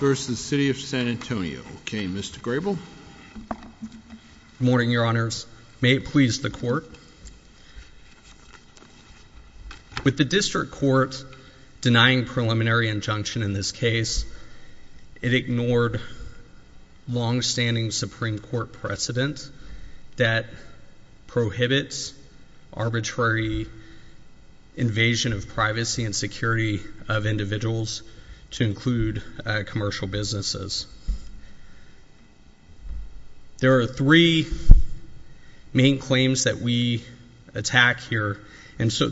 v. City of San Antonio. Okay, Mr. Grable. Good morning, Your Honors. May it please the Court. With the District Court denying preliminary injunction in this case, it ignored long-standing Supreme Court precedent that prohibits arbitrary invasion of privacy and security of individuals to include commercial businesses. There are three main claims that we attack here. And so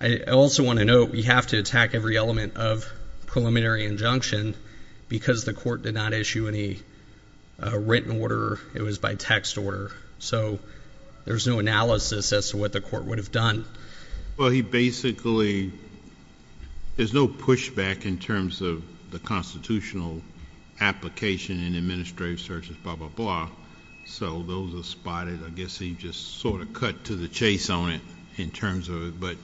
I also want to note, we have to attack every element of preliminary injunction because the Court did not issue any written order. It was by text order. So there's no analysis as to what the Court would have done. Well, he basically, there's no pushback in terms of the constitutional application and administrative searches, blah, blah, blah. So those are spotted. I guess he just sort of cut to the chase on it in terms of it. But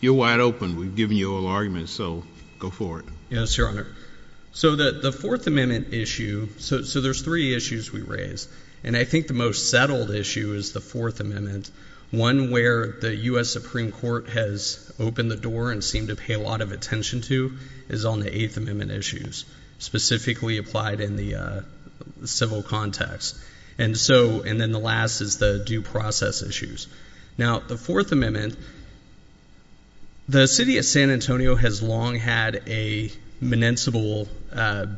you're wide open. We've given you all arguments. So go for it. Yes, Your Honor. So the Fourth Amendment issue, so there's three issues we raise. And I think the most settled issue is the Fourth Amendment. One where the U.S. Supreme Court has opened the door and seemed to pay a lot of attention to is on the Eighth Amendment issues, specifically applied in the civil context. And so, and then the last is the due process issues. Now, the Fourth Amendment, the City of San Antonio has long had a municipal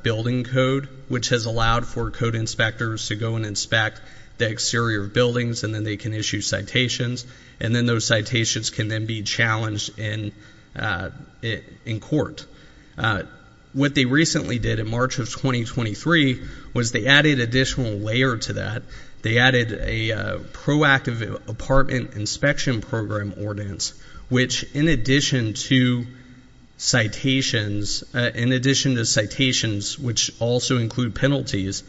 building code, which has allowed for code inspectors to go and inspect the exterior buildings and then they can issue citations. And then those citations can then be challenged in court. What they recently did in March of 2023 was they added additional layer to that. They added a proactive apartment inspection program ordinance, which in addition to citations, in addition to citations, which also include penalties,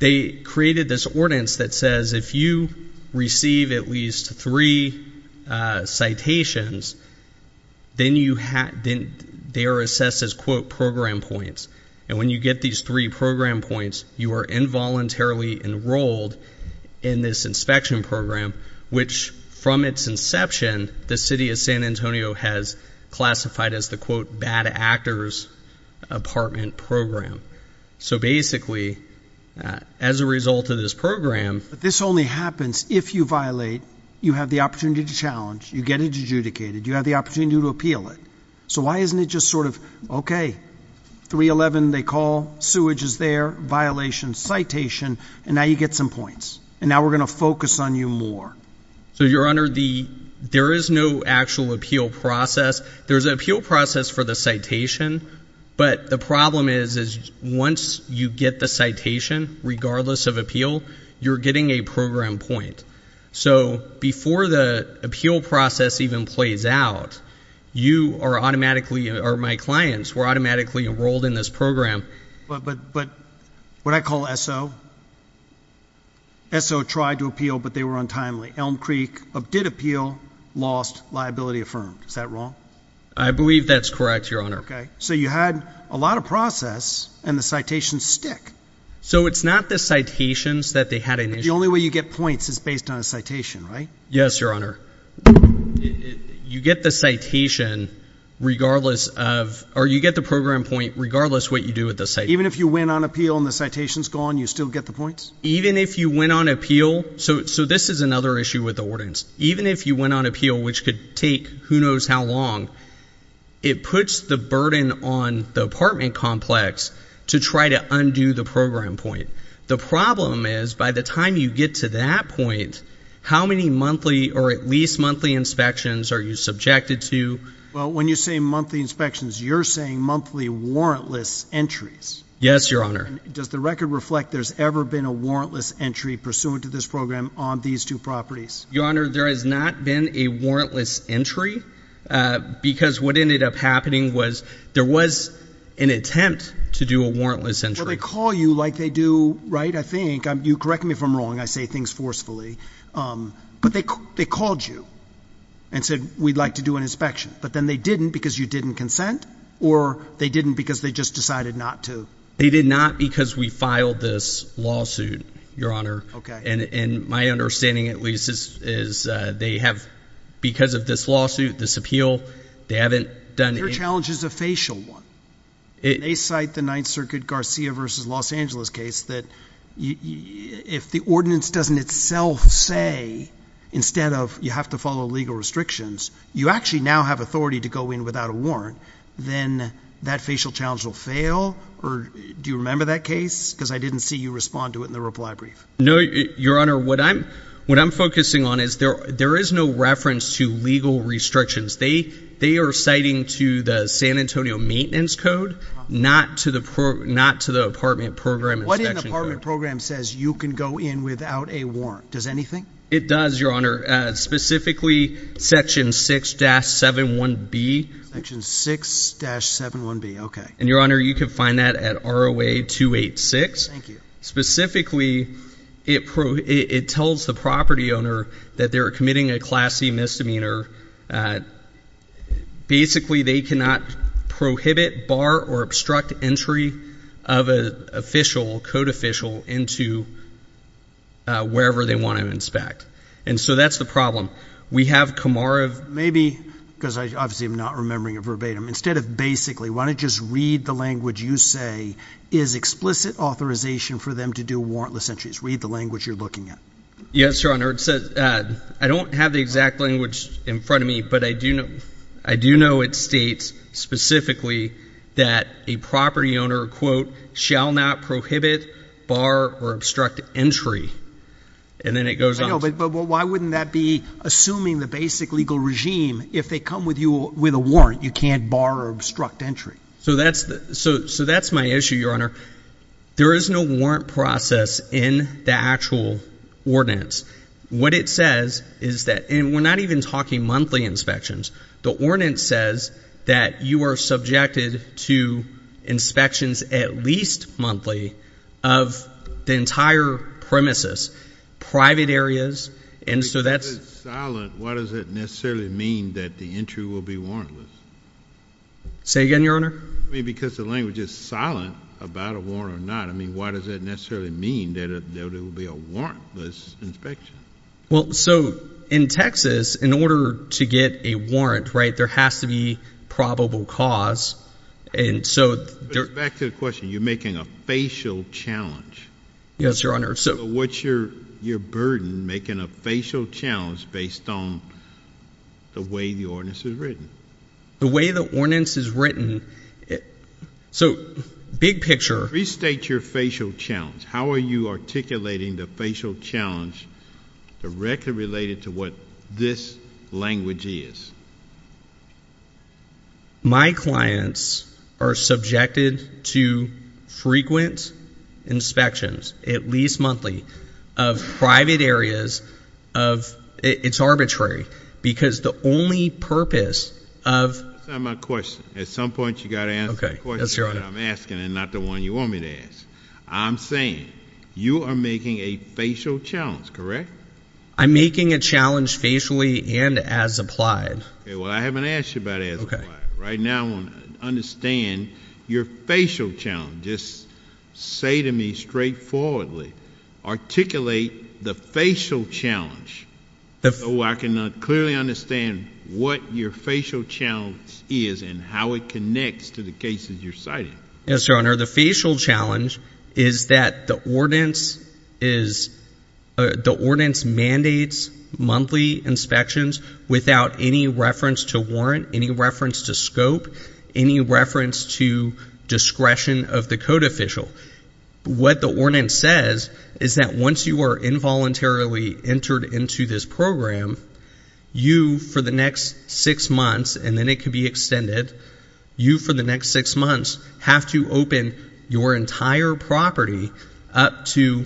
they created this ordinance that says if you receive at least three citations, then they are assessed as, quote, program points. And when you get these three program points, you are involuntarily enrolled in this inspection program, which from its inception, the City of San Antonio has classified as the, quote, bad actors apartment program. So basically, as a result of this program, this only happens if you violate, you have the opportunity to challenge, you get adjudicated, you have the opportunity to appeal it. So why isn't it just sort of, okay, 311, they call, sewage is there, violation, citation, and now you get some points. And now we're going to focus on you more. So your honor, the, there is no actual appeal process. There's an appeal process for the citation, but the problem is, is once you get the citation, regardless of appeal, you're getting a program point. So before the appeal process even plays out, you are automatically, or my clients were automatically enrolled in this program. But, but, but what I call SO, SO tried to appeal, but they were untimely. Elm Creek did appeal, lost, liability affirmed. Is that So you had a lot of process and the citations stick. So it's not the citations that they had initially. The only way you get points is based on a citation, right? Yes, your honor. You get the citation regardless of, or you get the program point regardless of what you do with the citation. Even if you win on appeal and the citation's gone, you still get the points? Even if you win on appeal, so, so this is another issue with the ordinance. Even if you went on appeal, which could take who knows how long, it puts the burden on the apartment complex to try to undo the program point. The problem is by the time you get to that point, how many monthly or at least monthly inspections are you subjected to? Well, when you say monthly inspections, you're saying monthly warrantless entries. Yes, your honor. Does the record reflect there's ever been a warrantless entry pursuant to this ordinance? There has not been a warrantless entry. Uh, because what ended up happening was there was an attempt to do a warrantless entry. They call you like they do, right? I think you correct me if I'm wrong. I say things forcefully. Um, but they, they called you and said, we'd like to do an inspection, but then they didn't because you didn't consent or they didn't because they just decided not to. They did not because we filed this lawsuit, your honor. And, and my understanding at least is, is, uh, they have, because of this lawsuit, this appeal, they haven't done it. Your challenge is a facial one. They cite the ninth circuit Garcia versus Los Angeles case that if the ordinance doesn't itself say, instead of you have to follow legal restrictions, you actually now have authority to go in without a warrant. Then that facial challenge will fail. Or do you remember that case? Cause I didn't see you respond to it in the reply brief. No, your honor. What I'm, what I'm focusing on is there, there is no reference to legal restrictions. They, they are citing to the San Antonio maintenance code, not to the PR, not to the apartment program program says you can go in without a warrant. Does anything, it does your honor, uh, specifically section six dash seven, one B section six dash seven, one B. Okay. And your honor, you can find that at our way to eight six. Thank you. Specifically it pro it tells the property owner that they're committing a classy misdemeanor. Uh, basically they cannot prohibit bar or obstruct entry of a official code official into, uh, wherever they want to inspect. And so that's the problem we have Kamara maybe cause I obviously I'm not remembering a verbatim instead of basically want to just read the language you say is explicit authorization for them to do warrantless entries. Read the language you're looking at. Yes, your honor. It says, uh, I don't have the exact language in front of me, but I do know, I do know it states specifically that a property owner quote shall not prohibit bar or obstruct entry. And then it goes on. Why wouldn't that be assuming the basic legal regime? If they come with you with a warrant, you can't borrow obstruct entry. So that's the, so, so that's my issue. Your honor, there is no warrant process in the actual ordinance. What it says is that, and we're not even talking monthly inspections, the ordinance says that you are subjected to inspections at least monthly of the entire premises, private areas. And so that's silent. What does it necessarily mean that the entry will be warrantless? Say again, your honor. I mean, because the language is silent about a warrant or not. I mean, why does that necessarily mean that there will be a warrantless inspection? Well, so in Texas, in order to get a warrant, right, there has to be probable cause. And so back to the question, you're making a facial challenge. Yes, your honor. So what's your, your burden making a facial challenge based on the way the ordinance is written? The way the ordinance is written. So big picture. Restate your facial challenge. How are you articulating the facial challenge directly related to what this language is? My clients are subjected to frequent inspections, at least monthly, of private areas of, it's arbitrary because the only purpose of. That's not my question. At some point you got to answer the question I'm asking and not the one you want me to ask. I'm saying you are making a facial challenge, correct? I'm making a challenge facially and as applied. Well, I haven't asked you about it as applied. Right now I want to understand your facial challenge. Just say to me straightforwardly, articulate the facial challenge so I can clearly understand what your facial challenge is and how it connects to the cases you're citing. Yes, your honor. The facial challenge is that the ordinance is, the ordinance mandates monthly inspections without any reference to warrant, any reference to scope, any reference to discretion of the code official. What the ordinance says is that once you are involuntarily entered into this program, you for the next six months, and then it can be extended, you for the next six months have to open your entire property up to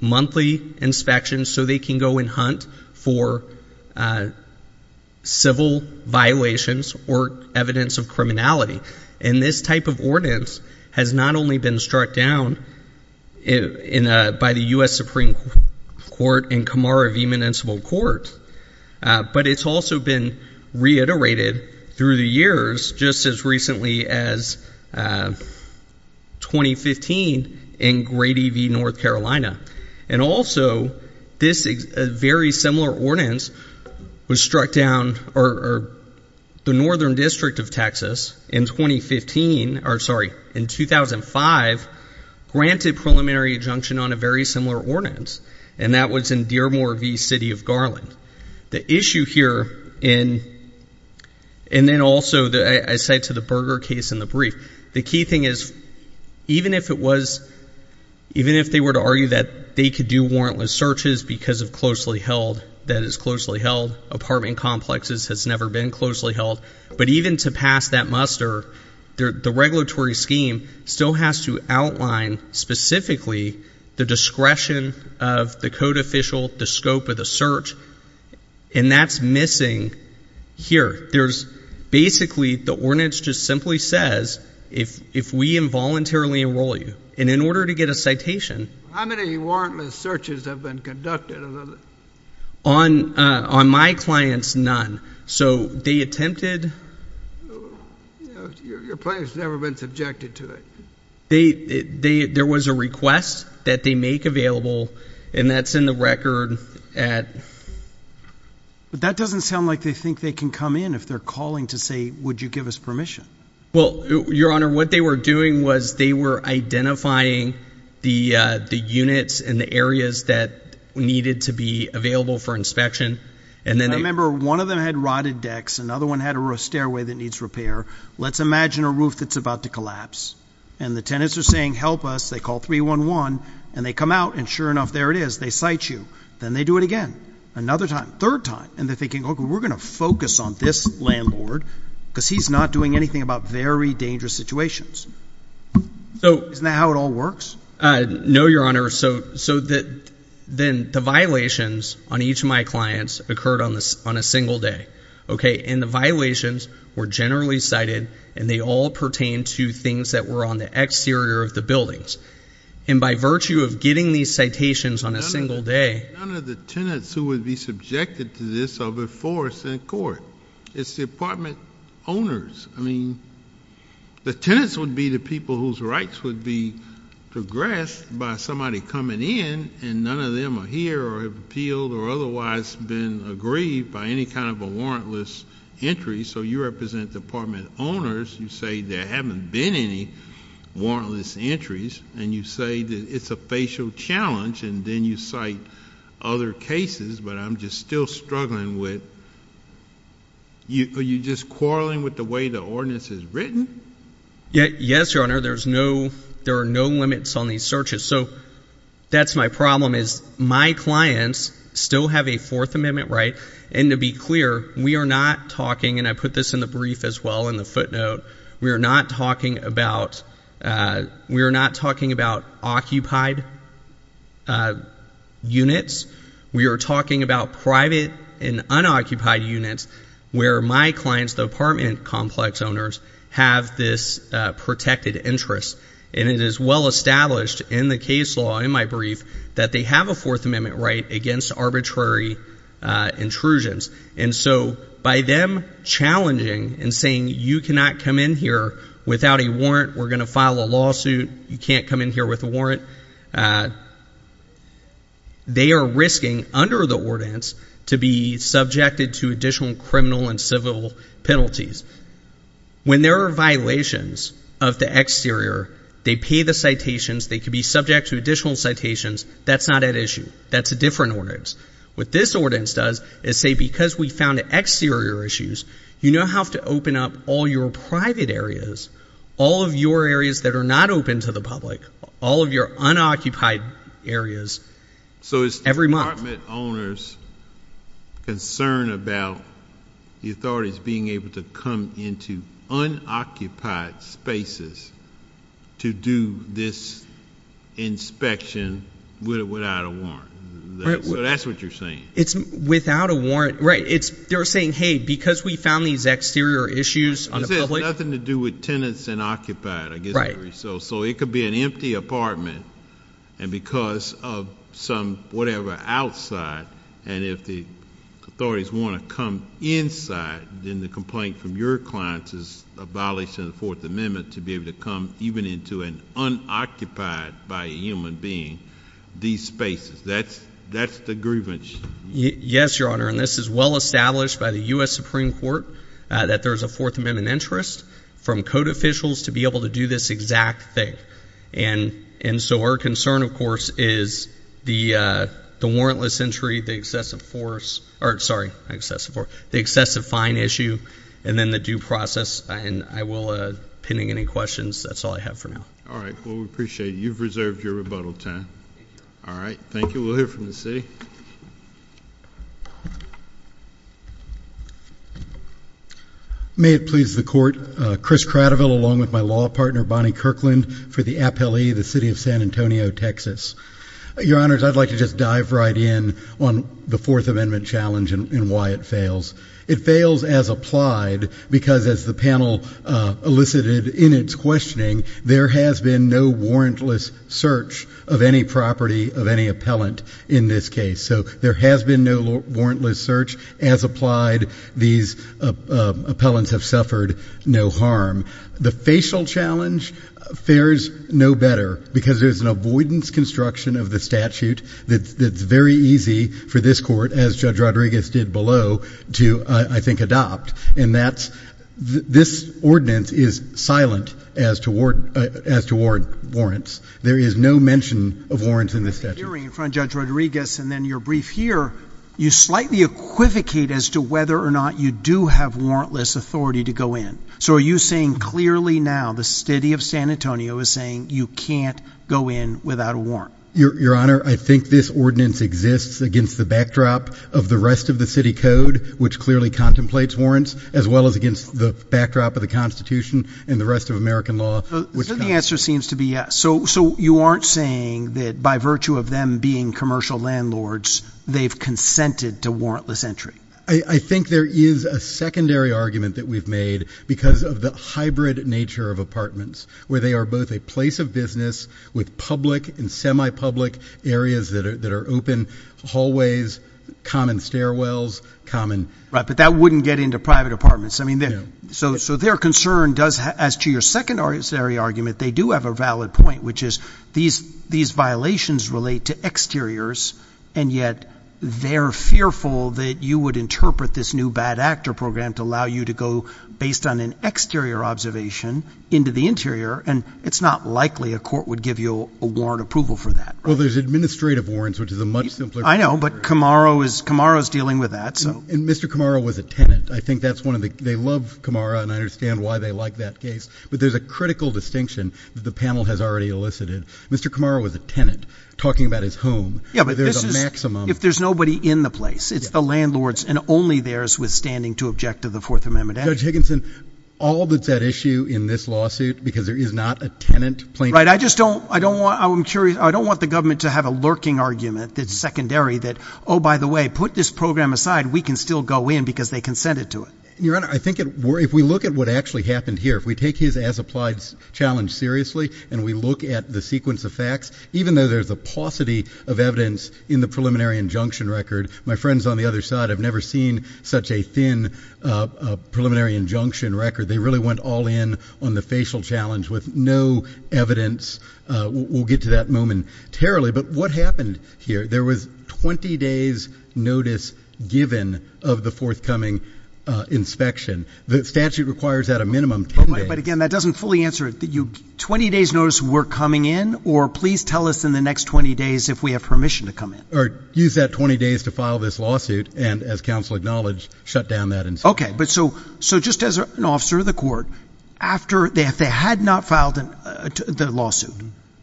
monthly inspections so they can go and hunt for civil violations or evidence of criminality. And this type of ordinance has not only been struck down by the U.S. Supreme Court and Kamara v. Municipal Court, but it's also been struck down as 2015 in Grady v. North Carolina. And also, this is a very similar ordinance was struck down, or the Northern District of Texas in 2015, or sorry, in 2005, granted preliminary injunction on a very similar ordinance. And that was in Dearmore v. City of Garland. The issue here in, and then also I cite to the Berger case in the brief, the key thing is even if it was, even if they were to argue that they could do warrantless searches because of closely held, that is closely held, apartment complexes has never been closely held, but even to pass that muster, the regulatory scheme still has to outline specifically the discretion of the code official, the scope of the search, and that's missing here. There's basically, the ordinance just simply says, if we involuntarily enroll you, and in order to get a citation... How many warrantless searches have been conducted? On my clients, none. So they attempted... Your client's never been subjected to it. They, there was a request that they make available, and that's in the record at... But that doesn't sound like they think they can come in if they're calling to say, would you give us permission? Well, Your Honor, what they were doing was they were identifying the units and the areas that needed to be available for inspection, and then they... I remember one of them had rotted decks, another one had a stairway that needs repair. Let's imagine a roof that's about to collapse, and the tenants are saying, help us. They call 311, and they come out, and sure enough, there it is. They cite you. Then they do it again, another time, third time, and they're thinking, okay, we're going to focus on this landlord because he's not doing anything about very dangerous situations. Isn't that how it all works? No, Your Honor. So then the violations on each of my clients occurred on a single day, and the violations were generally cited, and they all pertain to things that were on the exterior of the buildings. And by virtue of getting these citations on a single day... None of the tenants who would be subjected to this are before a court. It's the apartment owners. I mean, the tenants would be the people whose rights would be progressed by somebody coming in, and none of them are here or have appealed or otherwise been aggrieved by any kind of a warrantless entry. So you represent the apartment owners. You say there haven't been any warrantless entries, and you say that it's a facial challenge, and then you cite other cases, but I'm just still struggling with... Are you just quarreling with the way the ordinance is written? Yes, Your Honor. There are no limits on these searches. So that's my problem, is my clients still have a Fourth Amendment right. And to be clear, we are not talking... And I put this in the brief as well, in the footnote. We are not talking about... We are not talking about occupied units. We are talking about private and unoccupied units, where my clients, the apartment complex owners, have this protected interest. And it is well against arbitrary intrusions. And so by them challenging and saying, you cannot come in here without a warrant. We're going to file a lawsuit. You can't come in here with a warrant. They are risking, under the ordinance, to be subjected to additional criminal and civil penalties. When there are violations of the exterior, they pay the citations. They could be subject to additional citations. That's not at issue. That's a different ordinance. What this ordinance does is say, because we found exterior issues, you now have to open up all your private areas, all of your areas that are not open to the public, all of your unoccupied areas, every month. So is the apartment owner's concern about the authorities being able to come into unoccupied spaces to do this inspection without a warrant? So that's what you're saying? It's without a warrant. Right. They're saying, hey, because we found these exterior issues on the public... Because it has nothing to do with tenants and occupied, I guess you would say. Right. So it could be an empty apartment, and because of some whatever outside, and if the authorities want to come inside, then the complaint from your clients is abolished in the Fourth Amendment to be able to come even into an unoccupied by a human being, these spaces. That's the grievance. Yes, Your Honor, and this is well established by the U.S. Supreme Court that there's a Fourth Amendment interest from code officials to be able to do this exact thing. And so our excessive fine issue, and then the due process, and I will, pending any questions, that's all I have for now. All right. Well, we appreciate it. You've reserved your rebuttal time. All right. Thank you. We'll hear from the city. May it please the Court, Chris Cradiville, along with my law partner, Bonnie Kirkland, for the appellee, the city of San Antonio, Texas. Your Honors, I'd like to just dive right in on the Fourth Amendment challenge and why it fails. It fails as applied because as the panel elicited in its questioning, there has been no warrantless search of any property of any appellant in this case. So there has been no warrantless search as applied. These appellants have suffered no harm. The facial challenge fares no better because there's an avoidance construction of the statute that's very easy for this Court, as Judge Rodriguez did below, to, I think, adopt. And that's, this ordinance is silent as to warrants. There is no mention of warrants in this statute. Hearing from Judge Rodriguez and then your brief here, you slightly equivocate as to whether or not you do have warrantless authority to go in. So are you saying clearly now the city of San Antonio is saying you can't go in without a warrant? Your Honor, I think this ordinance exists against the backdrop of the rest of the city code, which clearly contemplates warrants, as well as against the backdrop of the Constitution and the rest of American law. So the answer seems to be yes. So you aren't saying that by virtue of them being commercial landlords, they've consented to warrantless entry? I think there is a secondary argument that we've made because of the hybrid nature of apartments, where they are both a place of business with public and semi-public areas that are open, hallways, common stairwells, common... Right, but that wouldn't get into private apartments. I mean, so their concern does, as to your secondary argument, they do have a valid point, which is these violations relate to exteriors, and yet they're fearful that you would interpret this new bad actor program to allow you to go, based on an exterior observation, into the interior, and it's not likely a court would give you a warrant approval for that, right? Well, there's administrative warrants, which is a much simpler program. I know, but Camaro is dealing with that, so... And Mr. Camaro was a tenant. I think that's one of the... They love Camaro, and I understand why they like that case, but there's a critical distinction that the panel has already elicited. Mr. Camaro was a tenant, talking about his home. Yeah, but this is... But there's a maximum... If there's nobody in the place, it's the landlords, and only theirs, withstanding to object to the Fourth Amendment action. Judge Higginson, all that's at issue in this lawsuit, because there is not a tenant plaintiff... Right, I just don't... I don't want... I'm curious... I don't want the government to have a lurking argument that's secondary, that, oh, by the way, put this program aside, we can still go in, because they consented to it. Your Honor, I think it... If we look at what actually happened here, if we take his as-applied challenge seriously, and we look at the sequence of facts, even though there's a paucity of preliminary injunction record, my friends on the other side have never seen such a thin preliminary injunction record. They really went all in on the facial challenge with no evidence. We'll get to that momentarily, but what happened here? There was 20 days' notice given of the forthcoming inspection. The statute requires at a minimum 10 days. But again, that doesn't fully answer it. 20 days' notice, we're coming in, or please tell us in the next 20 days if we have permission to come in. Or use that 20 days to file this lawsuit, and as counsel acknowledged, shut down that inspection. Okay, but so just as an officer of the court, if they had not filed the lawsuit,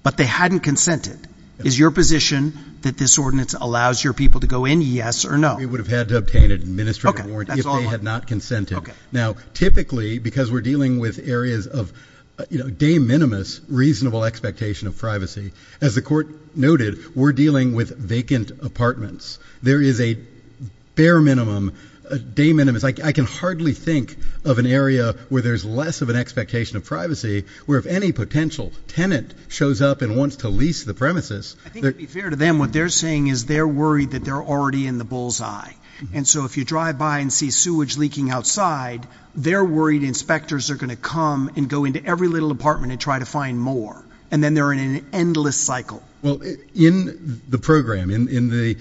but they hadn't consented, is your position that this ordinance allows your people to go in, yes or no? We would have had to obtain an administrative warrant if they had not consented. Now typically, because we're dealing with areas of de minimis reasonable expectation of privacy, as the court noted, we're dealing with vacant apartments. There is a bare minimum, de minimis, I can hardly think of an area where there's less of an expectation of privacy, where if any potential tenant shows up and wants to lease the premises. I think to be fair to them, what they're saying is they're worried that they're already in the bullseye. And so if you drive by and see sewage leaking outside, they're worried inspectors are going to come and go into every little apartment and try to find more. And then they're in an endless cycle. Well, in the program, in the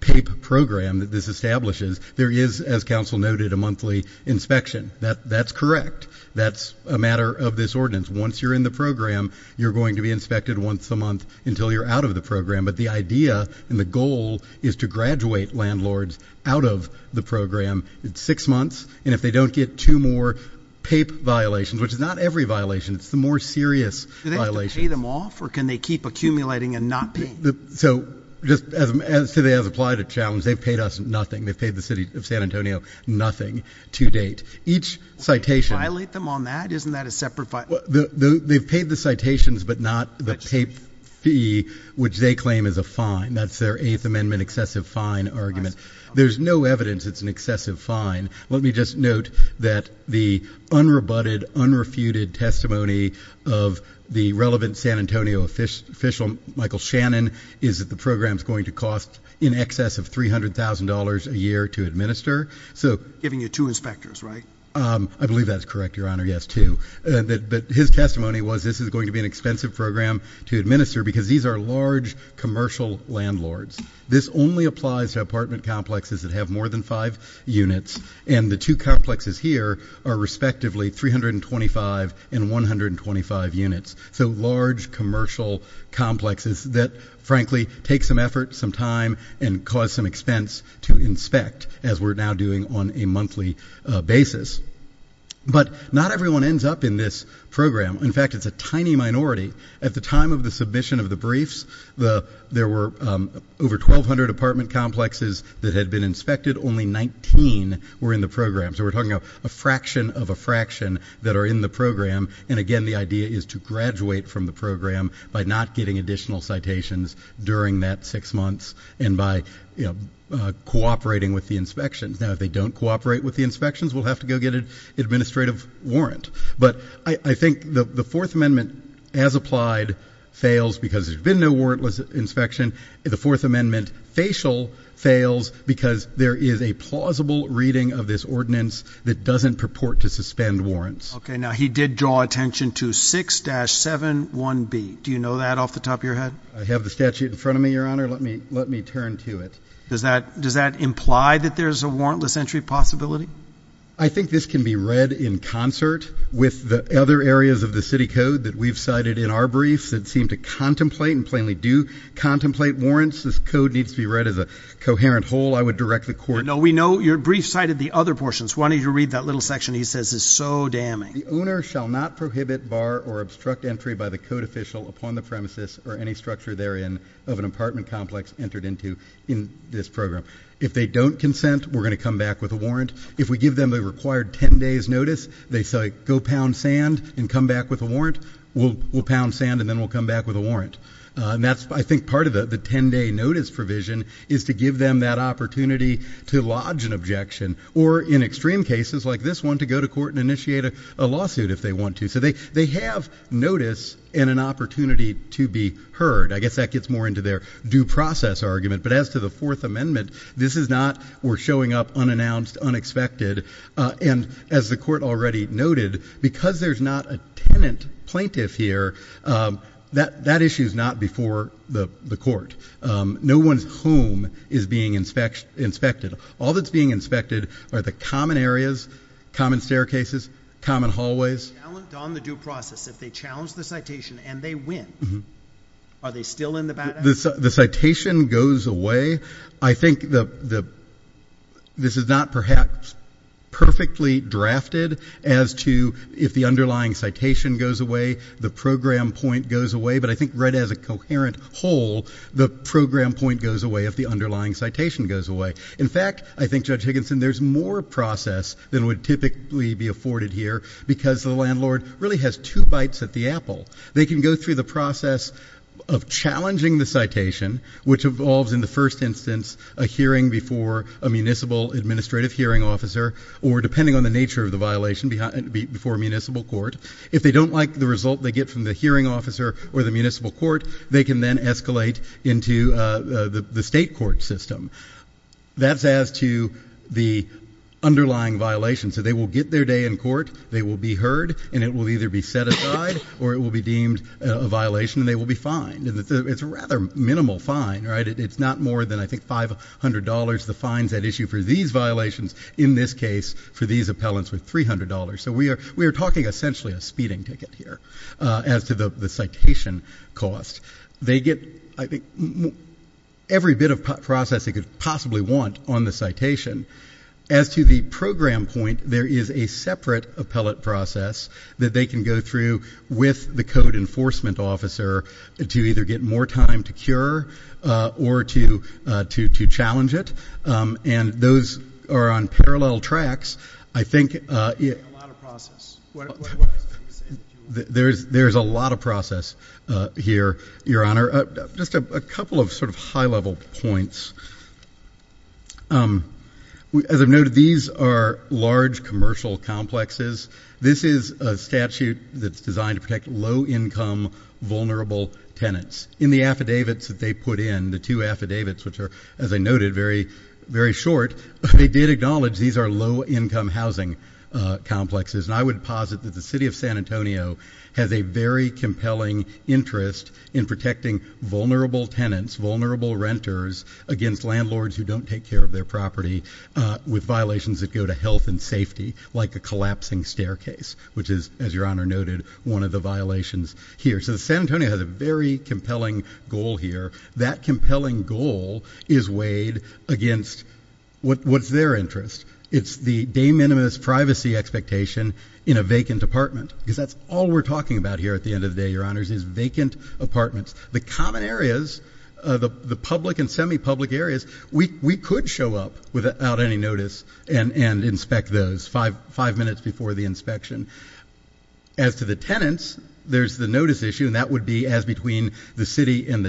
PAPE program that this establishes, there is, as counsel noted, a monthly inspection. That's correct. That's a matter of this ordinance. Once you're in the program, you're going to be inspected once a month until you're out of the program. But the idea and the goal is to graduate landlords out of the program. It's six months. And if they don't get two more PAPE violations, which is not every violation, it's the more serious violations. Do they have to pay them off? Or can they keep accumulating and not pay? So just as today has applied a challenge, they've paid us nothing. They've paid the city of San Antonio nothing to date. Each citation... Violate them on that? Isn't that a separate... They've paid the citations, but not the PAPE, which they claim is a fine. That's their Eighth Amendment excessive fine argument. There's no evidence it's an excessive fine. Let me just note that the unrebutted, unrefuted testimony of the relevant San Antonio official, Michael Shannon, is that the program's going to cost in excess of $300,000 a year to administer. So... Giving you two inspectors, right? I believe that's correct, Your Honor. Yes, two. But his testimony was this is going to be an expensive program to administer because these are large commercial landlords. This only applies to apartment complexes that have more than five units, and the two complexes here are respectively 325 and 125 units. So large commercial complexes that, frankly, take some effort, some time, and cause some expense to inspect, as we're now doing on a monthly basis. But not everyone ends up in this program. In fact, it's a tiny minority. At the time of the submission of the briefs, there were over 1,200 apartment complexes that had been inspected. Only 19 were in the program. So we're talking about a fraction of a fraction that are in the program. And again, the idea is to graduate from the program by not getting additional citations during that six months, and by cooperating with the inspections. Now, if they don't cooperate with the inspections, we'll have to go get an administrative warrant. But I think the Fourth Amendment, as applied, fails because there's been no warrantless inspection. The Fourth Amendment, facial, fails because there is a plausible reading of this ordinance that doesn't purport to suspend warrants. Okay. Now, he did draw attention to 6-71B. Do you know that off the top of your head? I have the statute in front of me, Your Honor. Let me turn to it. Does that imply that there's a warrantless entry possibility? I think this can be read in concert with the other areas of the city code that we've cited in our briefs that seem to contemplate and plainly do contemplate warrants. This code needs to be read as a coherent whole. I would direct the court- No, we know. Your brief cited the other portions. Why don't you read that little section he says is so damning? The owner shall not prohibit, bar, or obstruct entry by the code official upon the premises or any structure therein of an apartment complex entered into in this program. If they don't consent, we're going to come back with a warrant. If we give them a required 10 days' notice, they say, go pound sand and come back with a warrant, we'll pound sand and then we'll come back with a warrant. I think part of the 10-day notice provision is to give them that opportunity to lodge an objection or, in extreme cases like this one, to go to court and initiate a lawsuit if they want to. So they have notice and an opportunity to be heard. I guess that gets more into their due process argument. But as to the Fourth Amendment, this is not, we're showing up unannounced, unexpected. And as the court already noted, because there's not a tenant plaintiff here, that issue's not before the court. No one's home is being inspected. All that's being inspected are the common areas, common staircases, common hallways. On the due process, if they challenge the citation and they win, are they still in the bad habit? The citation goes away. I think this is not perhaps perfectly drafted as to if the underlying citation goes away, the program point goes away, but I think read as a coherent whole, the program point goes away if the underlying citation goes away. In fact, I think, Judge Higginson, there's more process than would typically be afforded They can go through the process of challenging the citation, which involves in the first instance a hearing before a municipal administrative hearing officer, or depending on the nature of the violation, before a municipal court. If they don't like the result they get from the hearing officer or the municipal court, they can then escalate into the state court system. That's as to the underlying violation. So they will get their day in court, they will be heard, and it will either be set aside or it will be deemed a violation, and they will be fined. It's a rather minimal fine, right? It's not more than, I think, $500, the fines at issue for these violations, in this case, for these appellants with $300. So we are talking essentially a speeding ticket here as to the citation cost. They get, I think, every bit of process they could possibly want on the citation. As to the program point, there is a separate appellate process that they can go through with the code enforcement officer to either get more time to cure or to challenge it. And those are on parallel tracks. I think... You're talking about a lot of process. There's a lot of process here, Your Honor. Just a couple of sort of high-level points. As I've noted, these are large commercial complexes. This is a statute that's designed to protect low-income, vulnerable tenants. In the affidavits that they put in, the two affidavits, which are, as I noted, very short, they did acknowledge these are low-income housing complexes, and I would posit that the City of San Antonio has a very compelling interest in protecting vulnerable tenants, vulnerable renters, against landlords who don't take care of their property with violations that go to health and safety, like a collapsing staircase, which is, as Your Honor noted, one of the violations here. So San Antonio has a very compelling goal here. That compelling goal is weighed against what's their interest. It's the de minimis privacy expectation in a vacant apartment, because that's all we're talking about here at the end of the day, Your Honors, is vacant apartments. The common areas, the public and semi-public areas, we could show up without any notice and inspect those five minutes before the inspection. As to the tenants, there's the notice issue, and that would be as between the city and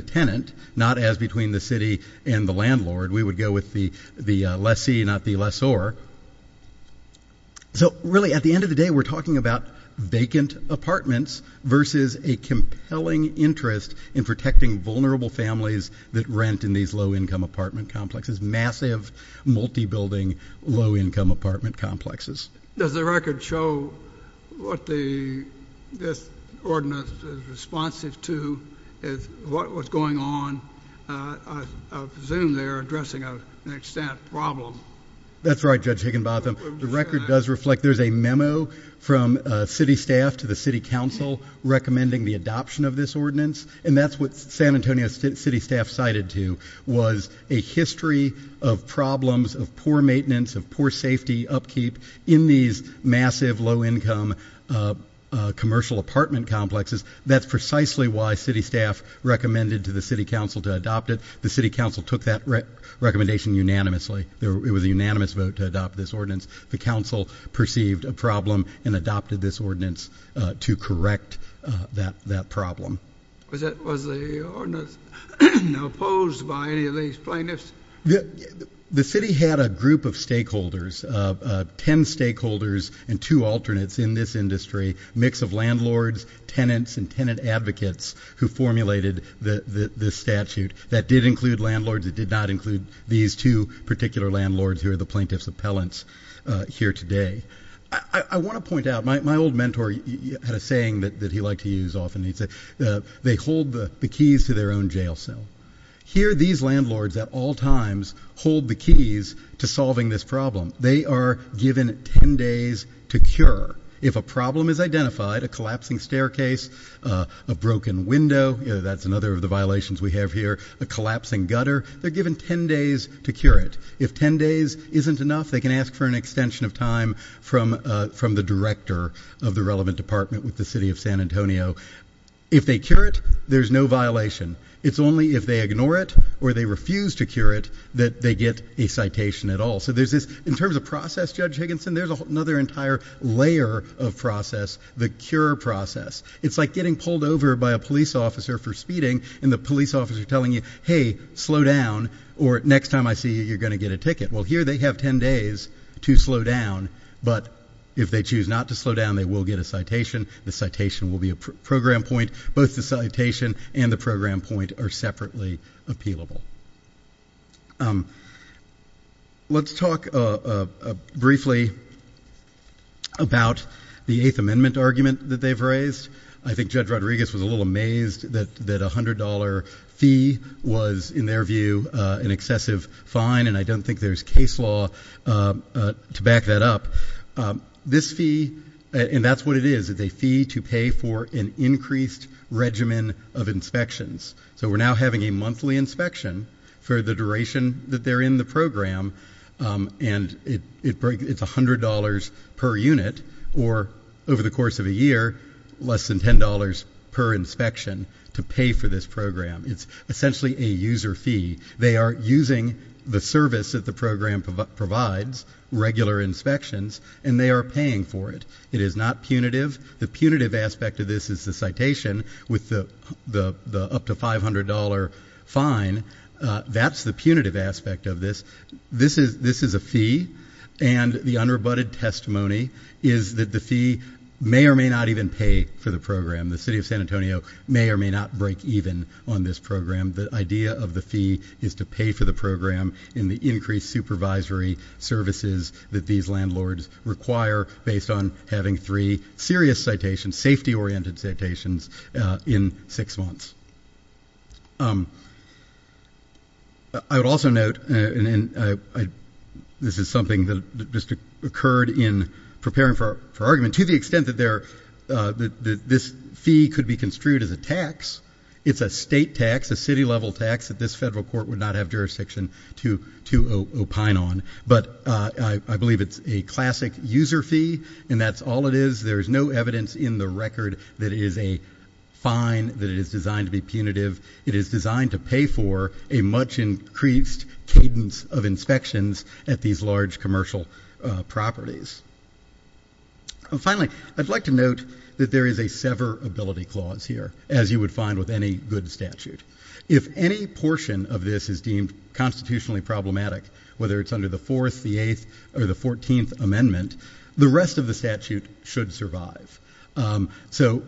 We would go with the lessee, not the lessor. So really, at the end of the day, we're talking about vacant apartments versus a compelling interest in protecting vulnerable families that rent in these low-income apartment complexes, massive, multi-building, low-income apartment complexes. Does the record show what this ordinance is responsive to, what was going on? I presume they're addressing an extent problem. That's right, Judge Higginbotham. The record does reflect there's a memo from city staff to the city council recommending the adoption of this ordinance, and that's what San Antonio city staff cited to was a history of problems of poor maintenance, of poor safety upkeep in these massive, low-income commercial apartment complexes. That's precisely why city staff recommended to the city council to adopt it. The city council took that recommendation unanimously. It was a unanimous vote to adopt this ordinance. The council perceived a problem and adopted this ordinance to correct that problem. Was the ordinance opposed by any of these plaintiffs? The city had a group of stakeholders, 10 stakeholders and two alternates in this industry, a mix of landlords, tenants, and tenant advocates who formulated this statute. That did include landlords. It did not include these two particular landlords who are the plaintiff's appellants here today. I want to point out, my old mentor had a saying that he liked to use often. They hold the keys to their own jail cell. Here these landlords at all times hold the keys to solving this problem. They are given 10 days to cure. If a problem is identified, a collapsing staircase, a broken window, that's another of the violations we have here, a collapsing gutter, they're given 10 days to cure it. If 10 days isn't enough, they can ask for an extension of time from the director of the relevant department with the city of San Antonio. If they cure it, there's no violation. It's only if they ignore it or they refuse to cure it that they get a citation at all. So there's this, in terms of process, Judge Higginson, there's another entire layer of process, the cure process. It's like getting pulled over by a police officer for speeding and the police officer telling you, hey, slow down, or next time I see you, you're going to get a ticket. Well, here they have 10 days to slow down, but if they choose not to slow down, they will get a citation. The citation will be a program point. Both the citation and the program point are separately appealable. Let's talk briefly about the Eighth Amendment argument that they've raised. I think Judge Rodriguez was a little amazed that a $100 fee was, in their view, an excessive fine. And I don't think there's case law to back that up. This fee, and that's what it is, it's a fee to pay for an increased regimen of inspections. So we're now having a monthly inspection for the duration that they're in the program. And it's $100 per unit, or over the course of a year, less than $10 per inspection to pay for this program. It's essentially a user fee. They are using the service that the program provides, regular inspections, and they are paying for it. It is not punitive. The punitive aspect of this is the citation with the up to $500 fine. That's the punitive aspect of this. This is a fee, and the unrebutted testimony is that the fee may or may not even pay for the program. The city of San Antonio may or may not break even on this program. The idea of the fee is to pay for the program in the increased supervisory services that these landlords require based on having three serious citations, safety-oriented citations in six months. I would also note, and this is something that just occurred in preparing for argument, to the extent that this fee could be construed as a tax. It's a state tax, a city-level tax that this federal court would not have jurisdiction to opine on. I believe it's a classic user fee, and that's all it is. There is no evidence in the record that it is a fine, that it is designed to be punitive. It is designed to pay for a much increased cadence of inspections at these large commercial properties. Finally, I'd like to note that there is a severability clause here, as you would find with any good statute. If any portion of this is deemed constitutionally problematic, whether it's under the 4th, the 8th, or the 14th amendment, the rest of the statute should survive. So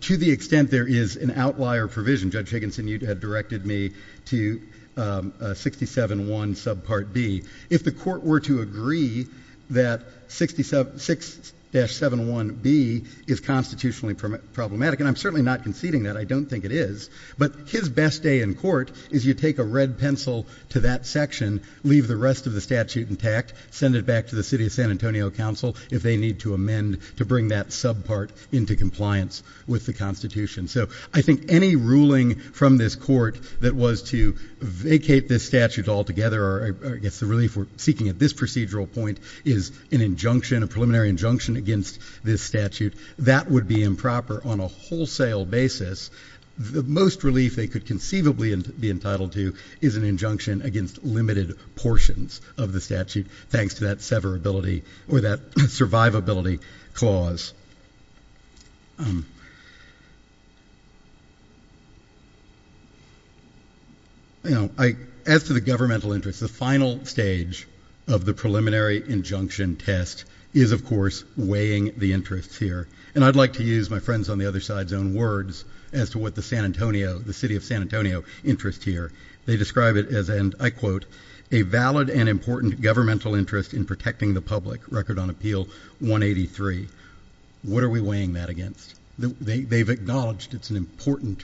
to the extent there is an outlier provision, Judge Higginson, you had directed me to 67.1 subpart B. If the court were to agree that 6-71B is constitutionally problematic, and I'm certainly not conceding that, I don't think it is, but his best day in court is you take a red pencil to that section, leave the rest of the statute intact, send it back to the city of San Antonio council if they need to amend to bring that subpart into compliance with the constitution. So I think any ruling from this court that was to vacate this statute altogether, or I guess the relief we're seeking at this procedural point is an injunction, a preliminary injunction against this statute, that would be improper on a wholesale basis. The most relief they could conceivably be entitled to is an injunction against limited portions of the statute, thanks to that survivability clause. As to the governmental interest, the final stage of the preliminary injunction test is, of course, weighing the interests here. And I'd like to use my friends on the other side's own words as to what the city of San Antonio interests here. They describe it as, and I quote, a valid and important governmental interest in protecting the public. Record on appeal 183. What are we weighing that against? They've acknowledged it's an important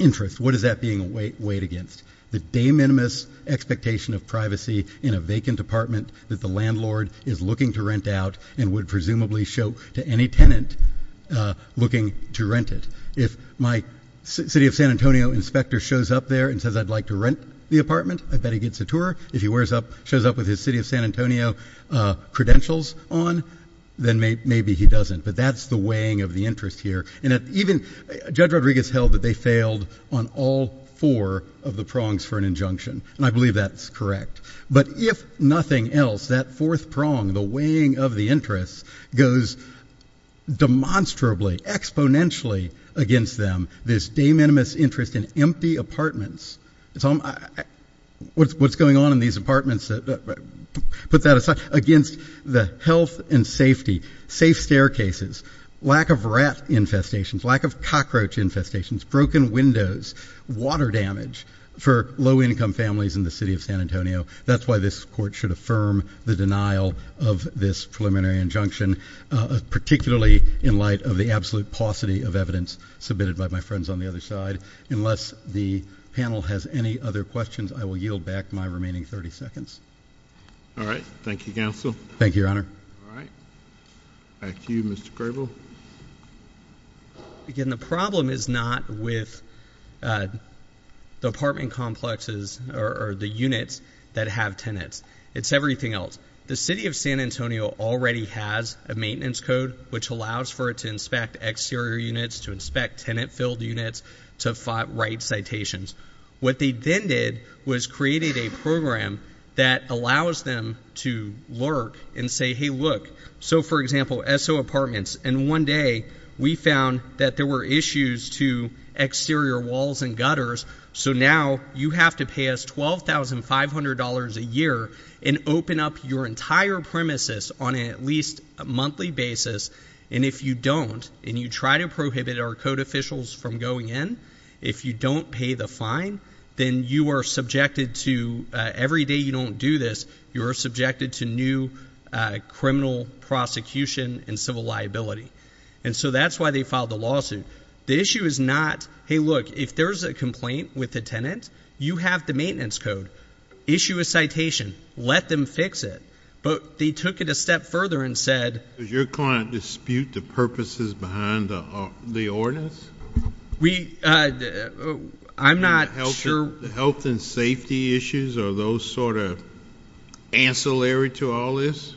interest. What is that being weighed against? The de minimis expectation of privacy in a vacant apartment that the landlord is looking to rent out and would presumably show to any tenant looking to rent it. If my city of San Antonio inspector shows up there and says I'd like to rent the apartment, I bet he gets a tour. If he shows up with his city of San Antonio credentials on, then maybe he doesn't. But that's the weighing of the interest here. And even Judge Rodriguez held that they failed on all four of the prongs for an injunction. And I believe that's correct. But if nothing else, that fourth prong, the weighing of the interest, goes demonstrably, exponentially against them, this de minimis interest in empty apartments. What's going on in these apartments, put that aside, against the health and safety, safe staircases, lack of rat infestations, lack of cockroach infestations, broken windows, water damage for low income families in the city of San Antonio. That's why this court should affirm the denial of this preliminary injunction, particularly in light of the absolute paucity of evidence submitted by my friends on the other side. Unless the panel has any other questions, I will yield back my remaining 30 seconds. All right, thank you, Counsel. Thank you, Your Honor. All right, back to you, Mr. Grable. Again, the problem is not with the apartment complexes or the units that have tenants. It's everything else. The city of San Antonio already has a maintenance code which allows for it to inspect exterior units, to inspect tenant filled units, to write citations. What they then did was created a program that allows them to lurk and say, hey, look. So for example, SO Apartments, and one day we found that there were issues to exterior walls and gutters. So now you have to pay us $12,500 a year and open up your entire premises on at least a monthly basis. And if you don't, and you try to prohibit our code officials from going in, if you don't pay the fine, then you are subjected to, every day you don't do this, you are subjected to new criminal prosecution and civil liability. And so that's why they filed the lawsuit. The issue is not, hey, look, if there's a complaint with a tenant, you have the maintenance code. Issue a citation, let them fix it. But they took it a step further and said- Does your client dispute the purposes behind the ordinance? We, I'm not sure- The health and safety issues, are those sort of ancillary to all this?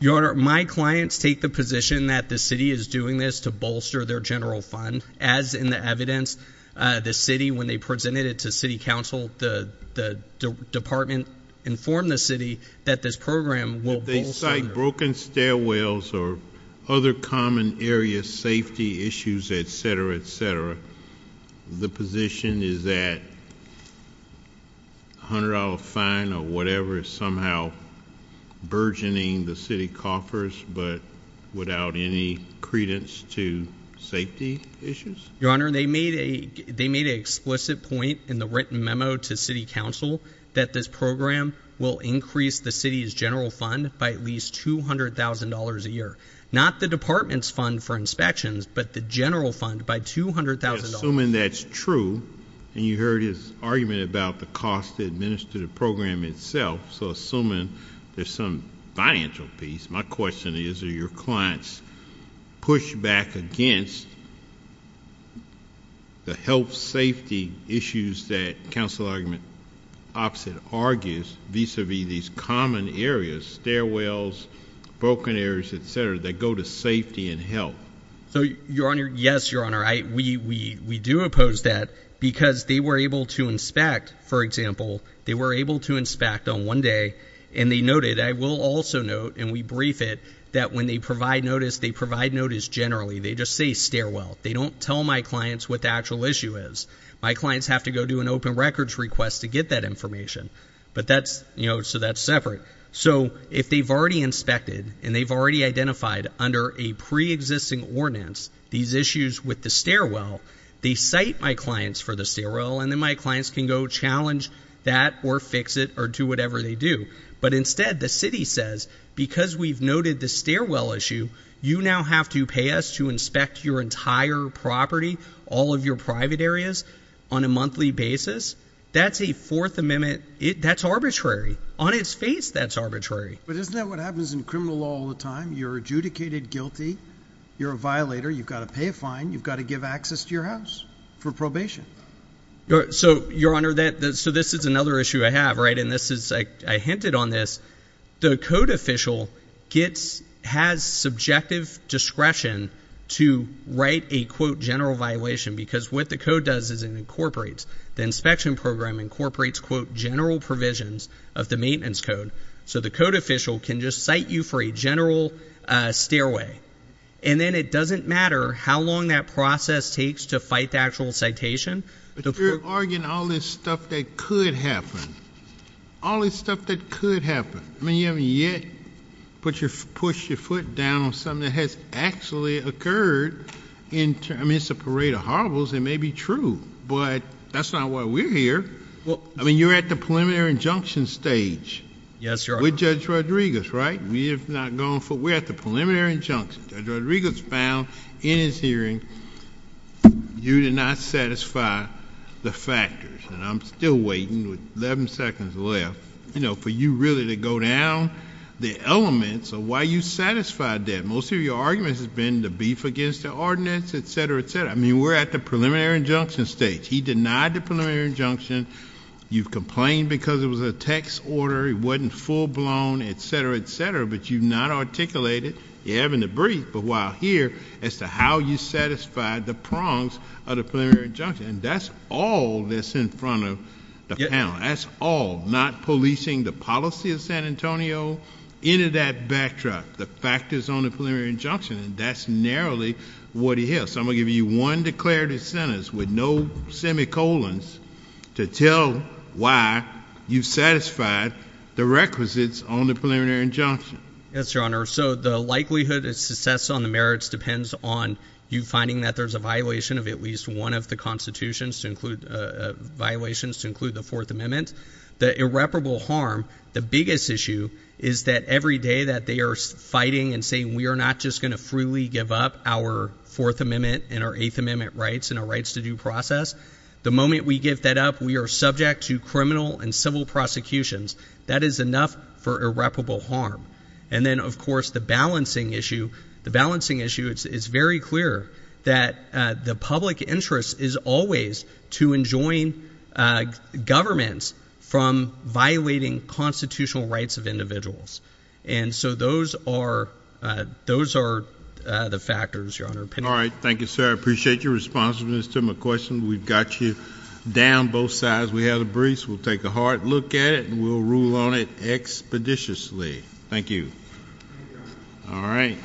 Your Honor, my clients take the position that the city is doing this to bolster their general fund. As in the evidence, the city, when they presented it to city council, the department informed the city that this program will bolster- If they cite broken stairwells or other common area safety issues, etc, etc. The position is that $100 fine or whatever is somehow burgeoning the city coffers but without any credence to safety issues? Your Honor, they made an explicit point in the written memo to city council that this program will increase the city's general fund by at least $200,000 a year. Not the department's fund for inspections, but the general fund by $200,000. Assuming that's true, and you heard his argument about the cost to administer the program itself, so assuming there's some financial piece, my question is, do your clients push back against the health safety issues that council argument opposite argues vis-a-vis these common areas, stairwells, broken areas, etc, that go to safety and health? Your Honor, yes, Your Honor, we do oppose that because they were able to inspect, for example, they were able to inspect on one day, and they noted, I will also note, and we brief it, that when they provide notice, they provide notice generally, they just say stairwell. They don't tell my clients what the actual issue is. My clients have to go do an open records request to get that information. But that's, so that's separate. So if they've already inspected, and they've already identified under a pre-existing ordinance, these issues with the stairwell, they cite my clients for the stairwell, and then my clients can go challenge that, or fix it, or do whatever they do. But instead, the city says, because we've noted the stairwell issue, you now have to pay us to inspect your entire property, all of your private areas, on a monthly basis, that's a Fourth Amendment, that's arbitrary. On its face, that's arbitrary. But isn't that what happens in criminal law all the time? You're adjudicated guilty, you're a violator, you've got to pay a fine, you've got to give access to your house for probation. So, Your Honor, that, so this is another issue I have, right, and this is, I hinted on this, the code official gets, has subjective discretion to write a, quote, general violation, because what the code does is it incorporates, the inspection program incorporates, quote, general provisions of the maintenance code. So the code official can just cite you for a general stairway. And then it doesn't matter how long that process takes to fight the actual citation. But you're arguing all this stuff that could happen, all this stuff that could happen. I mean, you haven't yet put your, pushed your foot down on something that has actually occurred in, I mean, it's a parade of horribles, it may be true, but that's not why we're here. Well, I mean, you're at the preliminary injunction stage. Yes, Your Honor. With Judge Rodriguez, right? We have not gone for, we're at the preliminary injunction. Judge Rodriguez found in his hearing you did not satisfy the factors. And I'm still waiting with 11 seconds left, you know, for you really to go down the elements of why you satisfied that. Most of your arguments have been the beef against the ordinance, et cetera, et cetera. I mean, we're at the preliminary injunction stage. He denied the preliminary injunction. You've complained because it was a text order. It wasn't full-blown, et cetera, et cetera. But you've not articulated, you're having to brief, but while here, as to how you satisfied the prongs of the preliminary injunction. And that's all that's in front of the panel. That's all, not policing the policy of San Antonio, into that backdrop, the factors on the preliminary injunction. And that's narrowly what he has. I'm going to give you one declarative sentence with no semicolons to tell why you satisfied the requisites on the preliminary injunction. Yes, Your Honor. So the likelihood of success on the merits depends on you finding that there's a violation of at least one of the constitutions to include, violations to include the Fourth Amendment. The irreparable harm, the biggest issue is that every day that they are fighting and saying, we are not just going to freely give up our Fourth Amendment and our Eighth Amendment rights and our rights to due process. The moment we give that up, we are subject to criminal and civil prosecutions. That is enough for irreparable harm. And then, of course, the balancing issue. The balancing issue, it's very clear that the public interest is always to enjoin governments from violating constitutional rights of individuals. And so those are the factors, Your Honor. All right. Thank you, sir. I appreciate your responsiveness to my question. We've got you down both sides. We have the briefs. We'll take a hard look at it and we'll rule on it expeditiously. Thank you. All right.